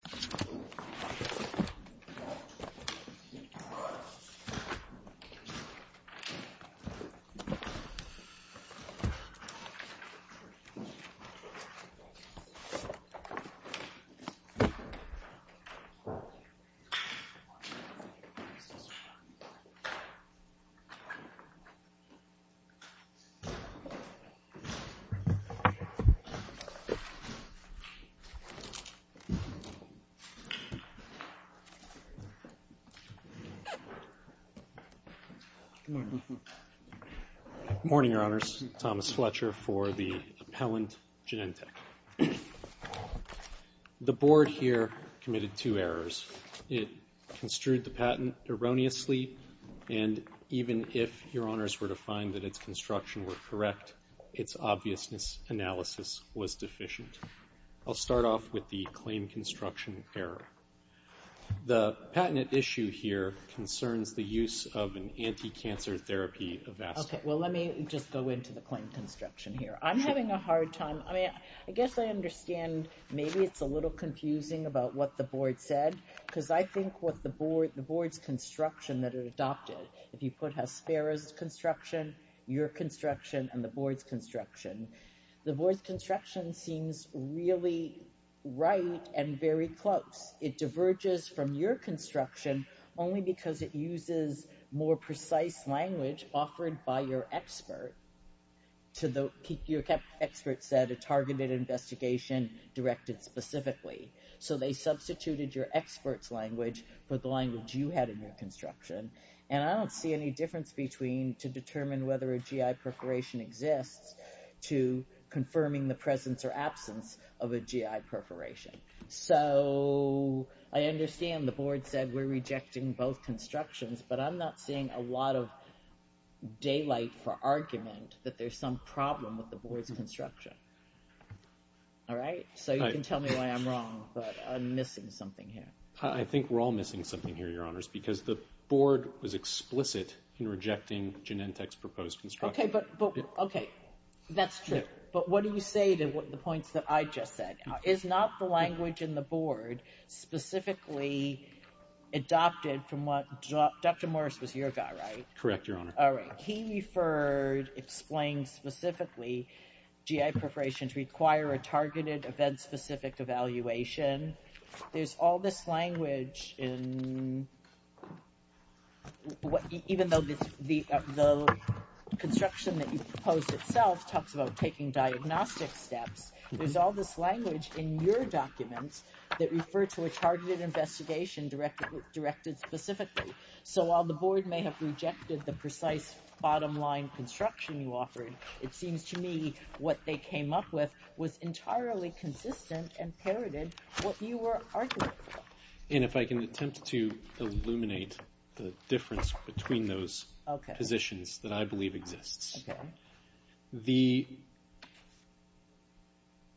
v. Hospira, Inc. v. Hospira, Inc. Good morning, Your Honors. Thomas Fletcher for the appellant, Genentech. The Board here committed two errors. It construed the patent erroneously, and even if Your Honors were to find that its construction were correct, its obviousness analysis was deficient. I'll start off with the claim construction error. The patented issue here concerns the use of an anti-cancer therapy vest. Okay, well let me just go into the claim construction here. I'm having a hard time, I mean, I guess I understand maybe it's a little confusing about what the Board said, because I think what the Board, the Board's construction that it adopted, if you put Hospira's construction, your construction, and the Board's construction, the Board's construction seems really right and very close. It diverges from your construction only because it uses more precise language offered by your expert. Your expert said a targeted investigation directed specifically. So they substituted your expert's language for the language you had in your construction. And I don't see any difference between to confirming the presence or absence of a GI perforation. So I understand the Board said we're rejecting both constructions, but I'm not seeing a lot of daylight for argument that there's some problem with the Board's construction. All right? So you can tell me why I'm wrong, but I'm missing something here. I think we're all missing something here, Your Honors, because the Board was explicit in rejecting Genentech's proposed construction. Okay, but, but, okay, that's true. But what do you say to the points that I just said? Is not the language in the Board specifically adopted from what, Dr. Morris was your guy, right? Correct, Your Honor. All right. He referred, explained specifically GI perforation to require a targeted event-specific evaluation. There's all this language in, even though the construction that you proposed itself talks about taking diagnostic steps, there's all this language in your documents that refer to a targeted investigation directed specifically. So while the Board may have rejected the precise bottom line construction you offered, it seems to me what they came up with was entirely consistent and parroted what you were arguing. And if I can attempt to illuminate the difference between those positions that I believe exists. The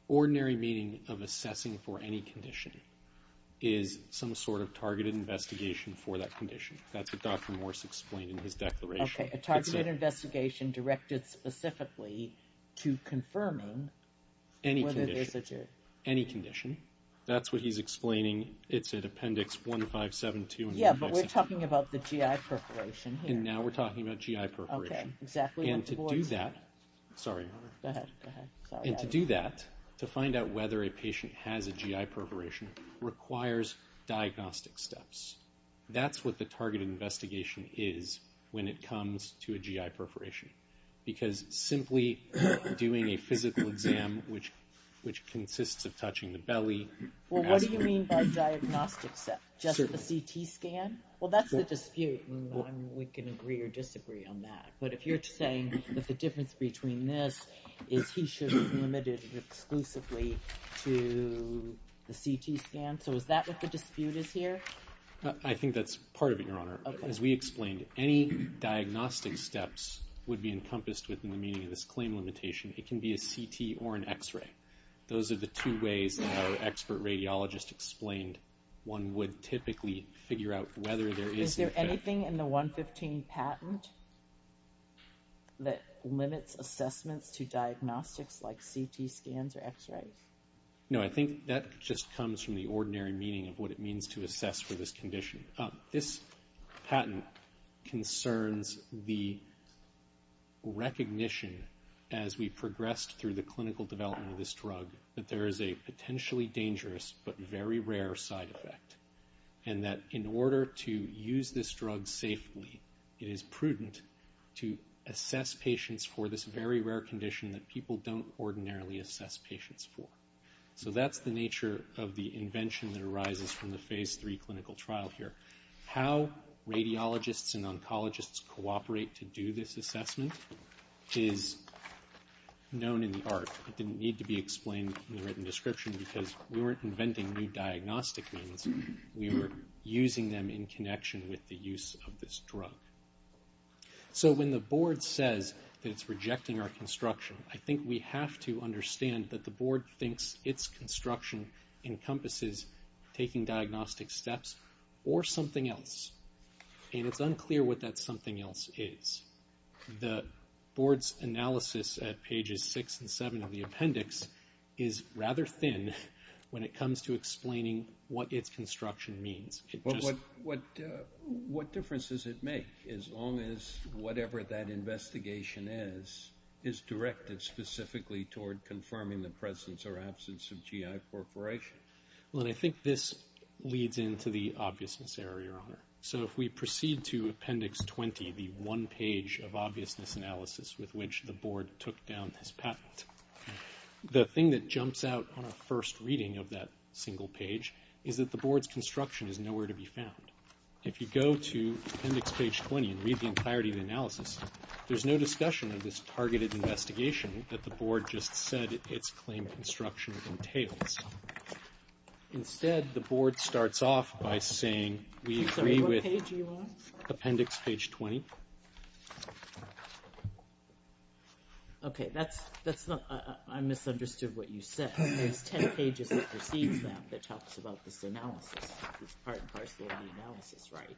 ordinary meaning of assessing for any condition is some sort of targeted investigation for that condition. That's what Dr. Morris explained in his declaration. Okay, a targeted investigation directed specifically to confirming whether there's a GERD. Any condition. That's what he's explaining. It's in Appendix 1572 and 1562. Yeah, but we're talking about the GI perforation here. And now we're talking about GI perforation. Okay, exactly what the Board said. And to do that, sorry. Go ahead, go ahead. And to do that, to find out whether a patient has a GI perforation requires diagnostic steps. That's what the targeted investigation is when it comes to a GI perforation. Because simply doing a physical exam, which consists of touching the belly. Well, what do you mean by diagnostic step? Just the CT scan? Well, that's the dispute, and we can agree or disagree on that. But if you're saying that the difference between this is he should be limited exclusively to the CT scan, so is that what the dispute is here? I think that's part of it, Your Honor. As we explained, any diagnostic steps would be encompassed within the meaning of this claim limitation. It can be a CT or an X-ray. Those are the two ways that our expert radiologist explained one would typically figure out whether there is an effect. Is there anything in the 115 patent that limits assessments to diagnostics like CT scans or X-rays? No, I think that just comes from the ordinary meaning of what it means to assess for this condition. This patent concerns the recognition as we progressed through the clinical development of this drug that there is a potentially dangerous but very rare side effect. And that in order to use this drug safely, it is prudent to assess patients for this very rare condition that people don't ordinarily assess patients for. So that's the nature of the invention that arises from the phase three clinical trial here. How radiologists and oncologists cooperate to do this assessment is known in the art. It didn't need to be explained in the written description because we weren't inventing new diagnostic means. We were using them in connection with the use of this drug. So when the board says that it's rejecting our construction, I think we have to understand that the board thinks its construction encompasses taking diagnostic steps or something else. And it's unclear what that something else is. The board's analysis at pages six and seven of the appendix is rather thin when it comes to explaining what its construction means. What difference does it make as long as whatever that investigation is, is directed specifically toward confirming the presence or absence of GI corporation? Well, I think this leads into the obviousness error, Your Honor. So if we proceed to appendix 20, the one page of obviousness analysis with which the board took down this patent, the thing that jumps out on a first reading of that single page is that the board's construction is nowhere to be found. If you go to appendix page 20 and read the entirety of the analysis, there's no discussion of this targeted investigation that the board just said its claim construction entails. Instead, the board starts off by saying we agree with appendix page 20. Okay, that's not, I misunderstood what you said. There's 10 pages that precedes that that talks about this analysis, this part and parcel of the analysis, right?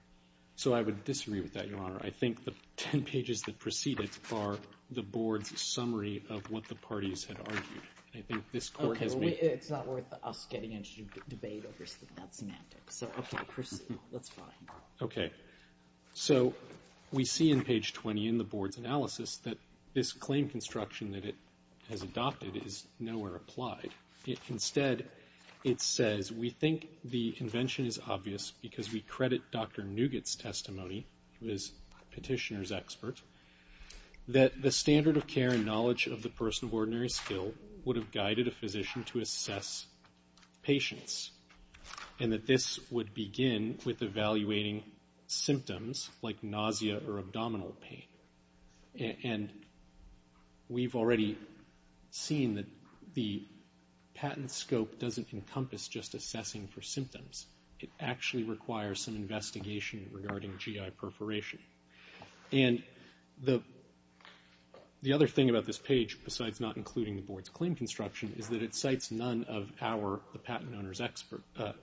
So I would disagree with that, Your Honor. I think the 10 pages that precede it are the board's summary of what the parties had argued. I think this court has made... Okay, well, it's not worth us getting into debate over that semantics. So, okay, proceed. That's fine. Okay, so we see in page 20 in the board's analysis that this claim construction that it has adopted is nowhere applied. Instead, it says, we think the invention is obvious because we credit Dr. Nugget's testimony, who is a petitioner's expert, that the standard of care and knowledge of the person of ordinary skill would have guided a physician to assess patients, and that this would begin with evaluating symptoms like nausea or abdominal pain. And we've already seen that the patent scope doesn't encompass just assessing for symptoms. It actually requires some investigation regarding GI perforation. And the other thing about this page, besides not including the board's claim construction, is that it cites none of our, the patent owner's,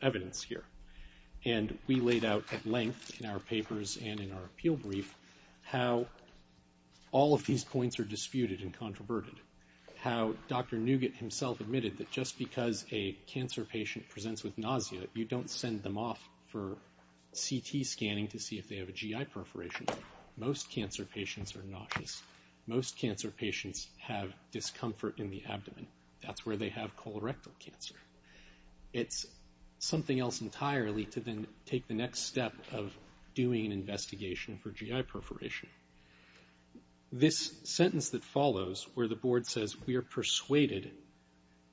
evidence here. And we laid out at length in our papers and in our appeal brief how all of these points are disputed and controverted, how Dr. Nugget himself admitted that just because a cancer patient presents with nausea, you don't send them off for CT scanning to see if they have a GI perforation. Most cancer patients are nauseous. Most cancer patients have discomfort in the abdomen. That's where they have colorectal cancer. It's something else entirely to then take the next step of doing an investigation for GI perforation. This sentence that follows, where the board says, we are persuaded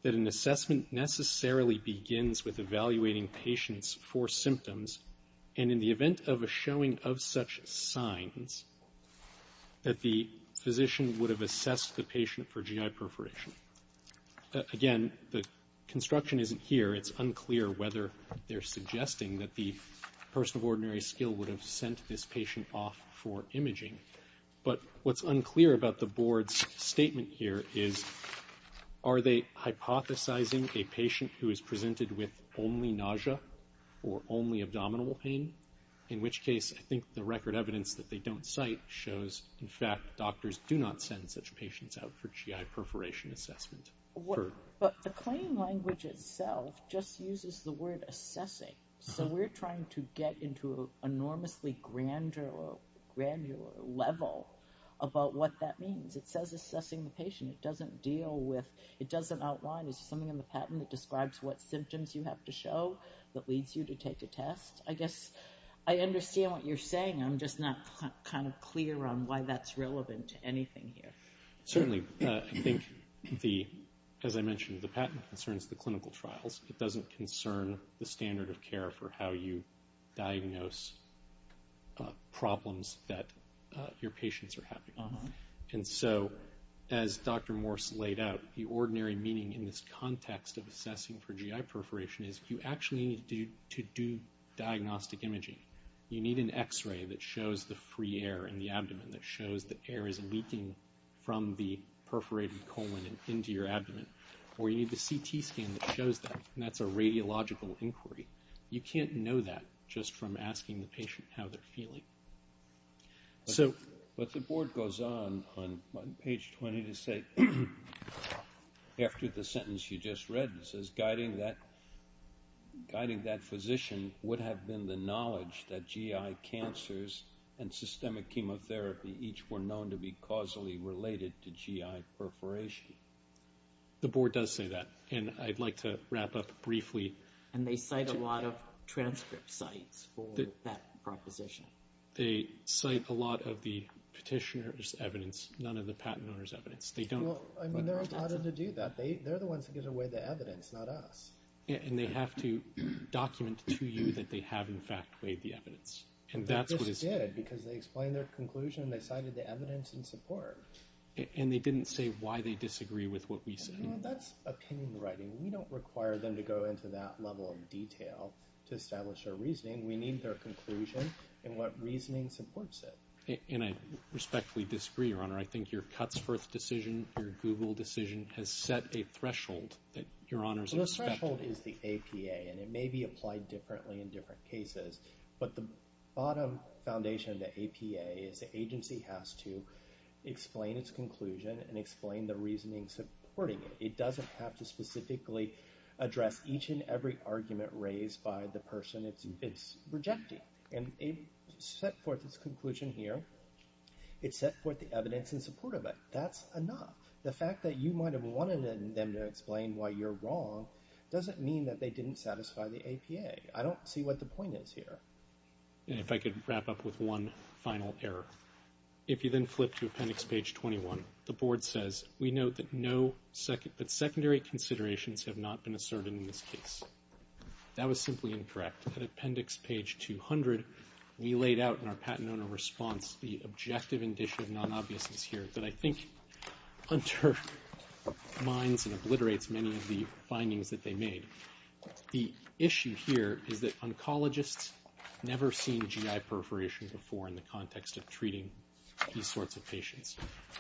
that an assessment necessarily begins with evaluating patients for symptoms, and in the event of a showing of such signs, that the physician would have assessed the patient for GI perforation. Again, the construction isn't here. It's unclear whether they're suggesting that the person of ordinary skill would have sent this patient off for imaging. But what's unclear about the board's statement here is, are they hypothesizing a patient who is presented with only nausea or only abdominal pain? In which case, I think the record evidence that they don't cite shows, in fact, doctors do not send such patients out for GI perforation assessment. But the claim language itself just uses the word assessing. So we're trying to get into an enormously granular level about what that means. It says assessing the patient. It doesn't deal with, it doesn't outline. It's something in the patent that describes what symptoms you have to show that leads you to take a test. I guess I understand what you're saying. I'm just not kind of clear on why that's relevant to anything here. Certainly, I think, as I mentioned, the patent concerns the clinical trials. It doesn't concern the standard of care for how you diagnose problems that your patients are having. And so, as Dr. Morse laid out, the ordinary meaning in this context of assessing for GI perforation is, you actually need to do diagnostic imaging. You need an X-ray that shows the free air in the abdomen, that shows that air is leaking from the perforated colon and into your abdomen. Or you need the CT scan that shows that, and that's a radiological inquiry. You can't know that just from asking the patient how they're feeling. But the board goes on, on page 20, to say, after the sentence you just read, it says, guiding that physician would have been the knowledge that GI cancers and systemic chemotherapy each were known to be causally related to GI perforation. The board does say that, and I'd like to wrap up briefly. And they cite a lot of transcript sites for that proposition. They cite a lot of the petitioner's evidence, none of the patent owner's evidence. Well, I mean, they're allowed to do that. They're the ones who get to weigh the evidence, not us. And they have to document to you that they have, in fact, weighed the evidence. They just did because they explained their conclusion and they cited the evidence in support. And they didn't say why they disagree with what we said. Well, that's opinion writing. We don't require them to go into that level of detail to establish their reasoning. We need their conclusion and what reasoning supports it. And I respectfully disagree, Your Honor. I think your Cutsforth decision, your Google decision, has set a threshold that Your Honors are expecting. Well, the threshold is the APA, and it may be applied differently in different cases. But the bottom foundation of the APA is the agency has to explain its conclusion and explain the reasoning supporting it. It doesn't have to specifically address each and every argument raised by the person it's rejecting. And it set forth its conclusion here. It set forth the evidence in support of it. That's enough. The fact that you might have wanted them to explain why you're wrong doesn't mean that they didn't satisfy the APA. I don't see what the point is here. And if I could wrap up with one final error. If you then flip to Appendix Page 21, the Board says, We note that secondary considerations have not been asserted in this case. That was simply incorrect. At Appendix Page 200, we laid out in our Patent Owner response the objective indicia of non-obviousness here that I think undermines and obliterates many of the findings that they made. The issue here is that oncologists never seen GI perforation before in the context of treating these sorts of patients.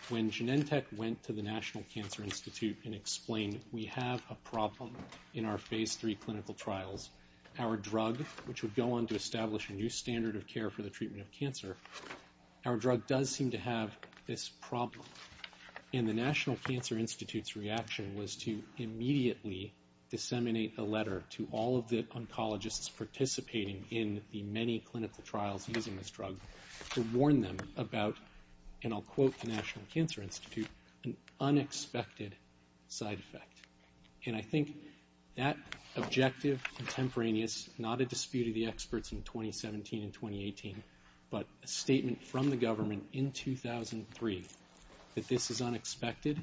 When Genentech went to the National Cancer Institute and explained, We have a problem in our Phase III clinical trials. Our drug, which would go on to establish a new standard of care for the treatment of cancer, our drug does seem to have this problem. And the National Cancer Institute's reaction was to immediately disseminate a letter to all of the oncologists participating in the many clinical trials using this drug to warn them about, and I'll quote the National Cancer Institute, an unexpected side effect. And I think that objective contemporaneous, not a dispute of the experts in 2017 and 2018, but a statement from the government in 2003 that this is unexpected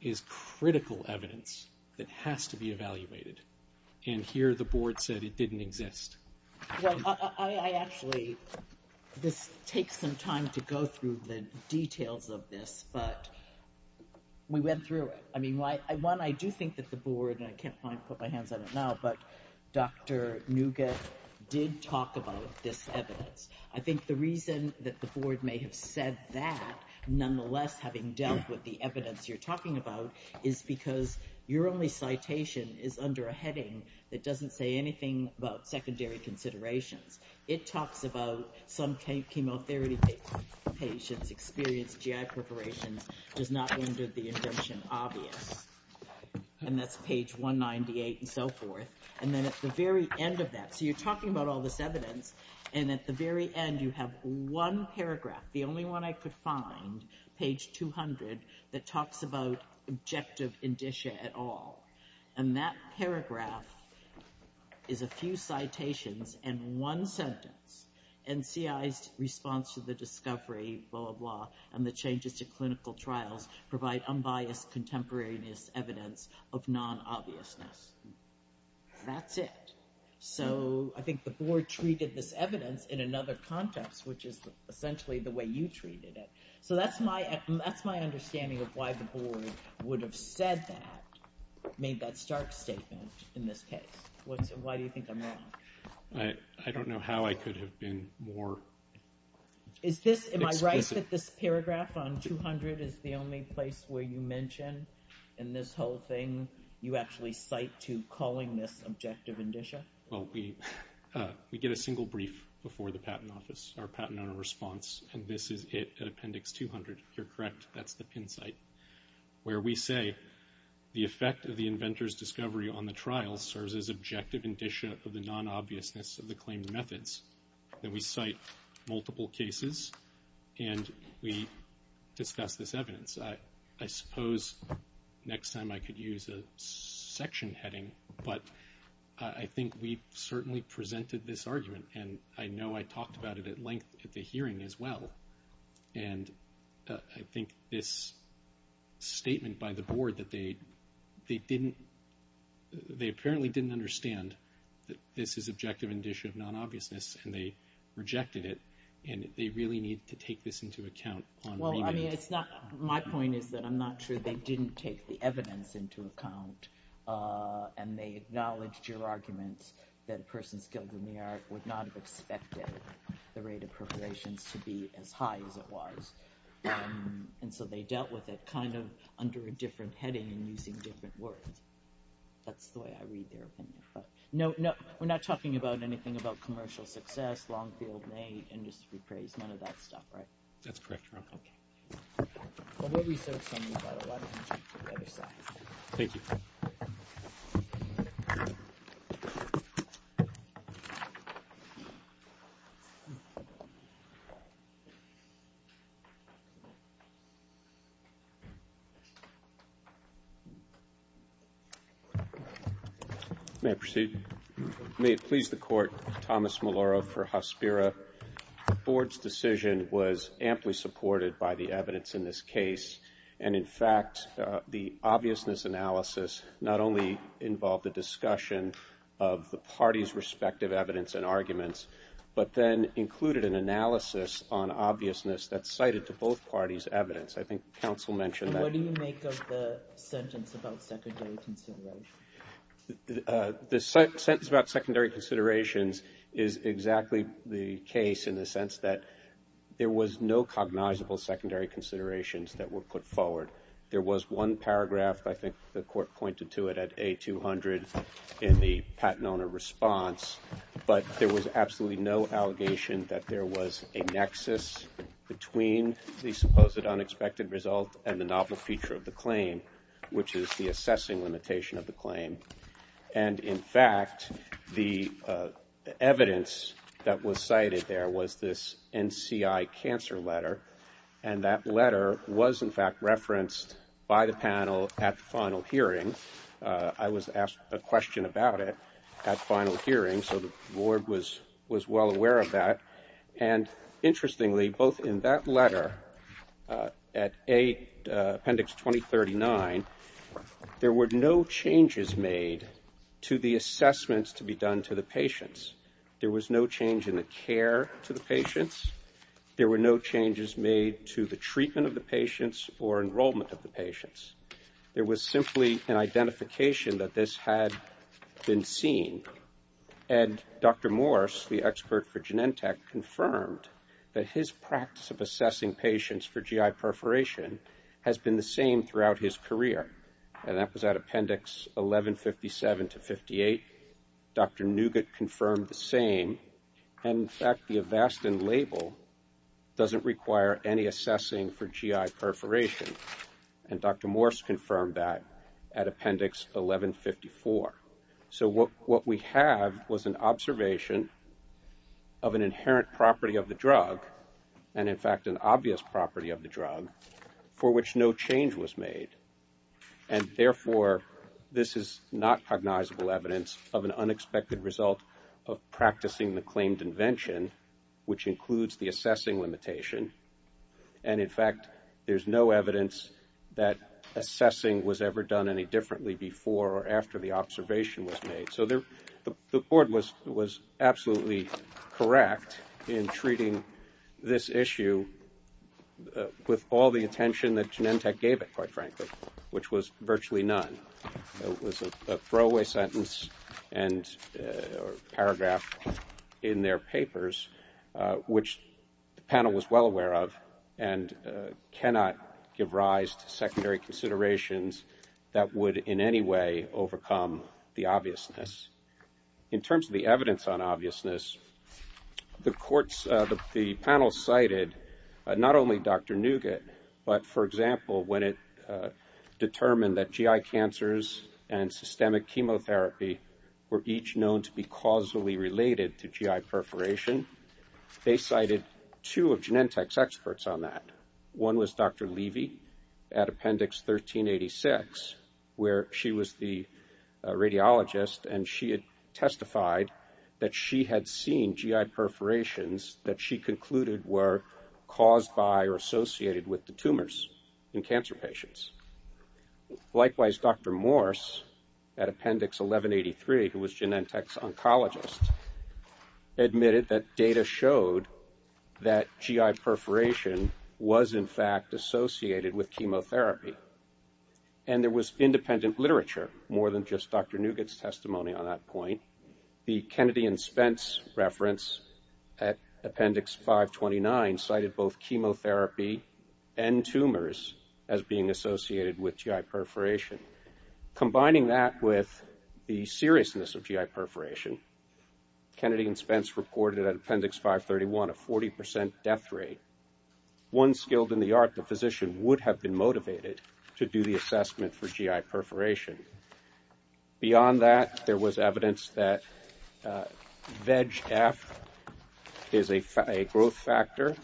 is critical evidence that has to be evaluated. And here the Board said it didn't exist. Well, I actually, this takes some time to go through the details of this, but we went through it. I mean, one, I do think that the Board, and I can't quite put my hands on it now, but Dr. Nugget did talk about this evidence. I think the reason that the Board may have said that, nonetheless having dealt with the evidence you're talking about, is because your only citation is under a heading that doesn't say anything about secondary considerations. It talks about some chemotherapy patients experienced GI perforations, does not render the invention obvious. And that's page 198 and so forth. And then at the very end of that, so you're talking about all this evidence, and at the very end you have one paragraph, the only one I could find, page 200, that talks about objective indicia at all. And that paragraph is a few citations and one sentence. And CI's response to the discovery, blah, blah, blah, and the changes to clinical trials provide unbiased contemporaneous evidence of non-obviousness. That's it. So I think the Board treated this evidence in another context, which is essentially the way you treated it. So that's my understanding of why the Board would have said that, made that stark statement in this case. Why do you think I'm wrong? I don't know how I could have been more explicit. Am I right that this paragraph on 200 is the only place where you mention in this whole thing you actually cite to calling this objective indicia? Well, we get a single brief before the Patent Office, our Patent Owner Response, and this is it at Appendix 200, if you're correct. That's the pin site where we say, the effect of the inventor's discovery on the trial serves as objective indicia of the non-obviousness of the claimed methods. Then we cite multiple cases and we discuss this evidence. I suppose next time I could use a section heading, but I think we certainly presented this argument, and I know I talked about it at length at the hearing as well. And I think this statement by the Board that they apparently didn't understand that this is objective indicia of non-obviousness and they rejected it, and they really need to take this into account on remand. Well, my point is that I'm not sure they didn't take the evidence into account and they acknowledged your argument that a person skilled in the art would not have expected the rate of perforations to be as high as it was, and so they dealt with it kind of under a different heading and using different words. That's the way I read their opinion. No, we're not talking about anything about commercial success, long-field, and industry praise, none of that stuff, right? That's correct, Your Honor. Okay. Well, we'll reserve some for the other side. Thank you. Thank you. May I proceed? May it please the Court, Thomas Maloro for Hospira. The Board's decision was amply supported by the evidence in this case, and, in fact, the obviousness analysis not only involved the discussion of the parties' respective evidence and arguments, but then included an analysis on obviousness that's cited to both parties' evidence. I think counsel mentioned that. And what do you make of the sentence about secondary considerations? The sentence about secondary considerations is exactly the case in the sense that there was no cognizable secondary considerations that were put forward. There was one paragraph, I think the Court pointed to it, at A200 in the Patenone response, but there was absolutely no allegation that there was a nexus between the supposed unexpected result and the novel feature of the claim, which is the assessing limitation of the claim. And, in fact, the evidence that was cited there was this NCI cancer letter, and that letter was, in fact, referenced by the panel at the final hearing. I was asked a question about it at the final hearing, so the Board was well aware of that. And, interestingly, both in that letter, at Appendix 2039, there were no changes made to the assessments to be done to the patients. There was no change in the care to the patients. There were no changes made to the treatment of the patients or enrollment of the patients. There was simply an identification that this had been seen. And Dr. Morse, the expert for Genentech, confirmed that his practice of assessing patients for GI perforation has been the same throughout his career, and that was at Appendix 1157 to 58. Dr. Nugget confirmed the same. And, in fact, the Avastin label doesn't require any assessing for GI perforation, and Dr. Morse confirmed that at Appendix 1154. So what we have was an observation of an inherent property of the drug, and, in fact, an obvious property of the drug, for which no change was made. And, therefore, this is not cognizable evidence of an unexpected result of practicing the claimed invention, which includes the assessing limitation. And, in fact, there's no evidence that assessing was ever done any differently before or after the observation was made. So the board was absolutely correct in treating this issue with all the attention that Genentech gave it, quite frankly, which was virtually none. It was a throwaway sentence or paragraph in their papers, which the panel was well aware of, and cannot give rise to secondary considerations that would in any way overcome the obviousness. In terms of the evidence on obviousness, the panel cited not only Dr. Nugget, but, for example, when it determined that GI cancers and systemic chemotherapy were each known to be causally related to GI perforation, they cited two of Genentech's experts on that. One was Dr. Levy at Appendix 1386, where she was the radiologist, and she had testified that she had seen GI perforations that she concluded were caused by or associated with the tumors in cancer patients. Likewise, Dr. Morse at Appendix 1183, who was Genentech's oncologist, admitted that data showed that GI perforation was, in fact, associated with chemotherapy. And there was independent literature, more than just Dr. Nugget's testimony on that point. The Kennedy and Spence reference at Appendix 529 cited both chemotherapy and tumors as being associated with GI perforation. Combining that with the seriousness of GI perforation, Kennedy and Spence reported at Appendix 531 a 40 percent death rate. One skilled in the art, the physician, would have been motivated to do the assessment for GI perforation. Beyond that, there was evidence that VEGF is a growth factor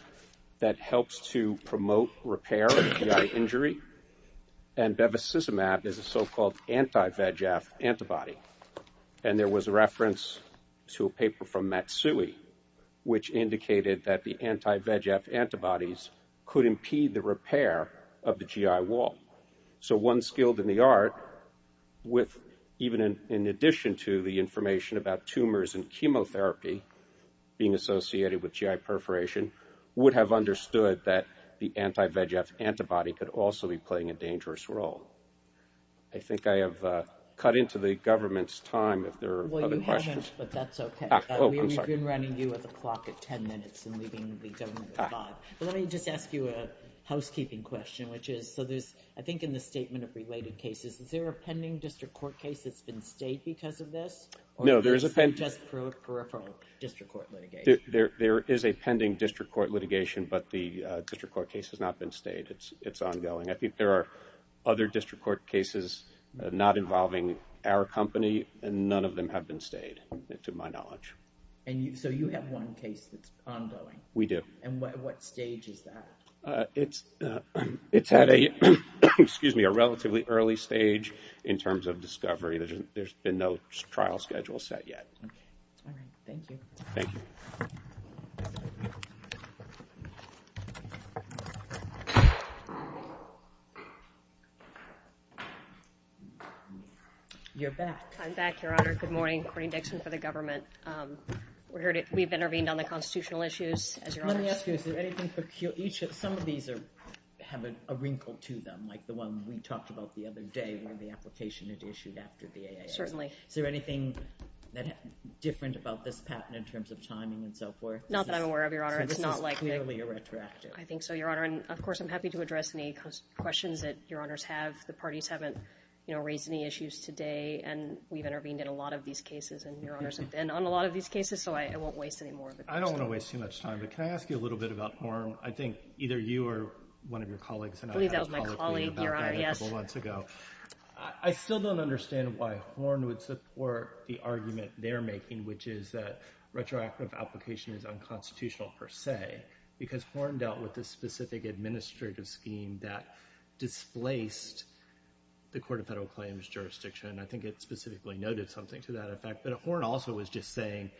that helps to promote repair of GI injury, and Bevacizumab is a so-called anti-VEGF antibody. And there was a reference to a paper from Matsui, which indicated that the anti-VEGF antibodies could impede the repair of the GI wall. So one skilled in the art, even in addition to the information about tumors and chemotherapy being associated with GI perforation, would have understood that the anti-VEGF antibody could also be playing a dangerous role. I think I have cut into the government's time if there are other questions. Well, you haven't, but that's okay. Oh, I'm sorry. We've been running you at the clock at ten minutes and leaving the government at five. Let me just ask you a housekeeping question, which is, so there's, I think in the statement of related cases, is there a pending district court case that's been stayed because of this? No, there is a pending. Or is it just peripheral district court litigation? There is a pending district court litigation, but the district court case has not been stayed. It's ongoing. I think there are other district court cases not involving our company, and none of them have been stayed, to my knowledge. And so you have one case that's ongoing? We do. And what stage is that? It's at a relatively early stage in terms of discovery. There's been no trial schedule set yet. All right. Thank you. Thank you. You're back. I'm back, Your Honor. Good morning. Corrine Dixon for the government. We've intervened on the constitutional issues. Let me ask you, is there anything peculiar? Some of these have a wrinkle to them, like the one we talked about the other day, where the application had issued after the AAI. Certainly. Is there anything different about this patent in terms of timing and so forth? Not that I'm aware of, Your Honor. So this is clearly a retroactive? I think so, Your Honor. And, of course, I'm happy to address any questions that Your Honors have. The parties haven't raised any issues today, and we've intervened in a lot of these cases, and Your Honors have been on a lot of these cases, so I won't waste any more of your time. I don't want to waste too much time, but can I ask you a little bit about Horne? I think either you or one of your colleagues and I had a colloquy about that a couple months ago. I believe that was my colleague, Your Honor, yes. I still don't understand why Horne would support the argument they're making, which is that retroactive application is unconstitutional per se, because Horne dealt with a specific administrative scheme that displaced the Court of Federal Claims jurisdiction. I think it specifically noted something to that effect. But Horne also was just saying,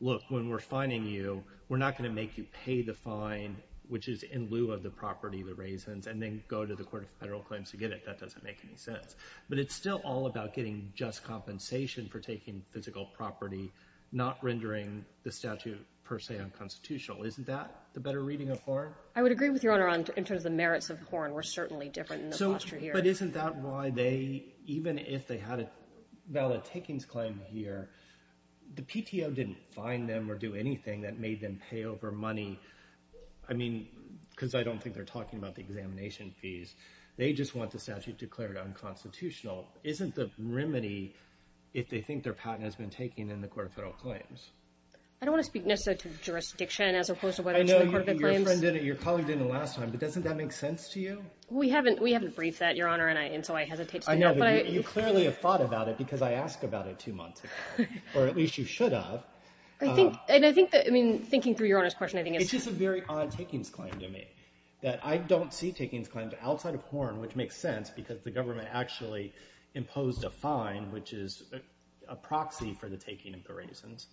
look, when we're fining you, we're not going to make you pay the fine, which is in lieu of the property, the raisins, and then go to the Court of Federal Claims to get it. That doesn't make any sense. But it's still all about getting just compensation for taking physical property, not rendering the statute per se unconstitutional. Isn't that the better reading of Horne? I would agree with Your Honor in terms of the merits of Horne. We're certainly different in the posture here. But isn't that why they, even if they had a valid takings claim here, the PTO didn't fine them or do anything that made them pay over money? I mean, because I don't think they're talking about the examination fees. They just want the statute declared unconstitutional. Isn't the remedy if they think their patent has been taken in the Court of Federal Claims? I don't want to speak necessarily to jurisdiction as opposed to whether it's in the Court of Federal Claims. I know your colleague didn't last time, but doesn't that make sense to you? We haven't briefed that, Your Honor, and so I hesitate to do that. I know, but you clearly have thought about it because I asked about it two months ago, or at least you should have. I think that, I mean, thinking through Your Honor's question, I think it's— It's just a very odd takings claim to me, that I don't see takings claims outside of Horne, which makes sense because the government actually imposed a fine, which is a proxy for the taking of the raisins,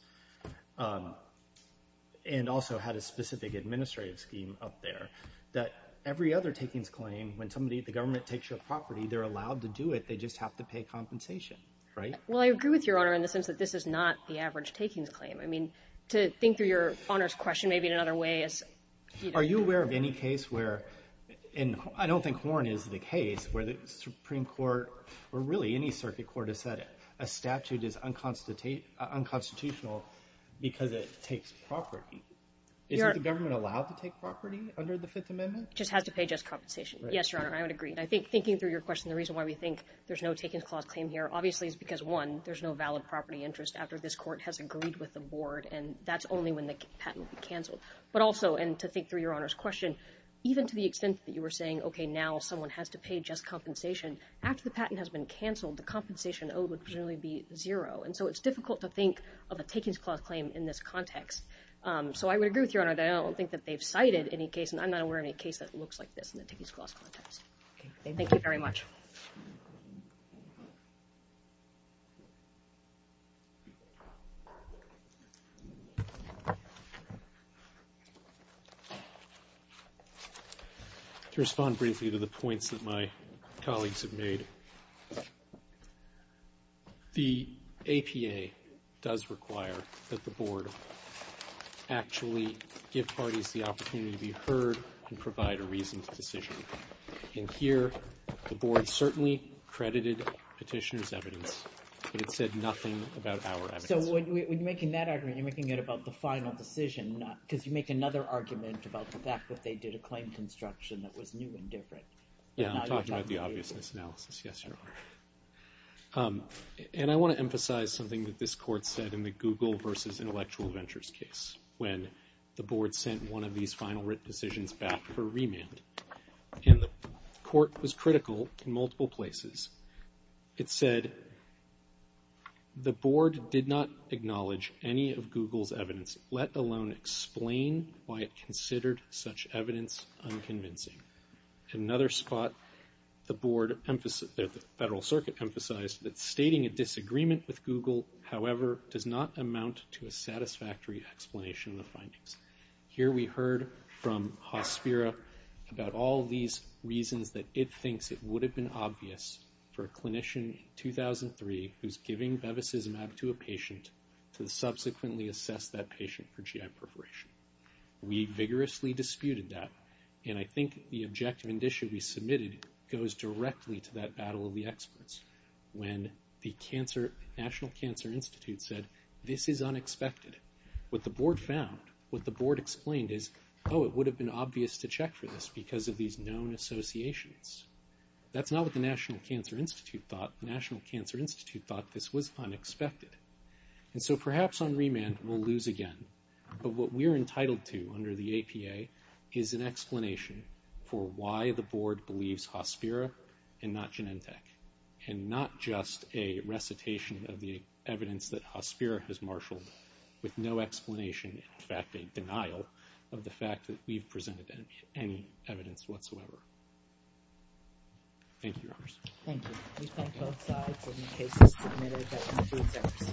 and also had a specific administrative scheme up there, that every other takings claim, when the government takes your property, they're allowed to do it. They just have to pay compensation, right? Well, I agree with Your Honor in the sense that this is not the average takings claim. I mean, to think through Your Honor's question maybe in another way— Are you aware of any case where—and I don't think Horne is the case— where the Supreme Court, or really any circuit court, has said a statute is unconstitutional because it takes property. Isn't the government allowed to take property under the Fifth Amendment? It just has to pay just compensation. Yes, Your Honor, I would agree. I think, thinking through your question, the reason why we think there's no takings clause claim here, obviously, is because, one, there's no valid property interest after this court has agreed with the board, and that's only when the patent will be canceled. But also, and to think through Your Honor's question, even to the extent that you were saying, okay, now someone has to pay just compensation, after the patent has been canceled, the compensation owed would generally be zero. And so it's difficult to think of a takings clause claim in this context. So I would agree with Your Honor that I don't think that they've cited any case, and I'm not aware of any case that looks like this in the takings clause context. Thank you very much. Thank you. To respond briefly to the points that my colleagues have made, the APA does require that the board actually give parties the opportunity to be heard and provide a reasoned decision. And here, the board certainly credited petitioner's evidence, but it said nothing about our evidence. So when you're making that argument, you're making it about the final decision, not because you make another argument about the fact that they did a claim construction that was new and different. Yeah, I'm talking about the obviousness analysis, yes, Your Honor. And I want to emphasize something that this court said in the Google versus Intellectual Ventures case, when the board sent one of these final written decisions back for remand. And the court was critical in multiple places. It said, the board did not acknowledge any of Google's evidence, let alone explain why it considered such evidence unconvincing. In another spot, the board, the Federal Circuit emphasized that stating a disagreement with Google, however, does not amount to a satisfactory explanation of the findings. Here we heard from Hospira about all these reasons that it thinks it would have been obvious for a clinician in 2003 who's giving Bevacizumab to a patient to subsequently assess that patient for GI perforation. We vigorously disputed that. And I think the objective indicia we submitted goes directly to that battle of the experts. When the National Cancer Institute said, this is unexpected. What the board found, what the board explained is, oh, it would have been obvious to check for this because of these known associations. That's not what the National Cancer Institute thought. The National Cancer Institute thought this was unexpected. And so perhaps on remand we'll lose again. But what we're entitled to under the APA is an explanation for why the board believes Hospira and not Genentech, and not just a recitation of the evidence that Hospira has marshaled with no explanation, in fact, a denial of the fact that we've presented any evidence whatsoever. Thank you, Your Honors. Thank you. We thank both sides. And the case is submitted. That concludes our procedure.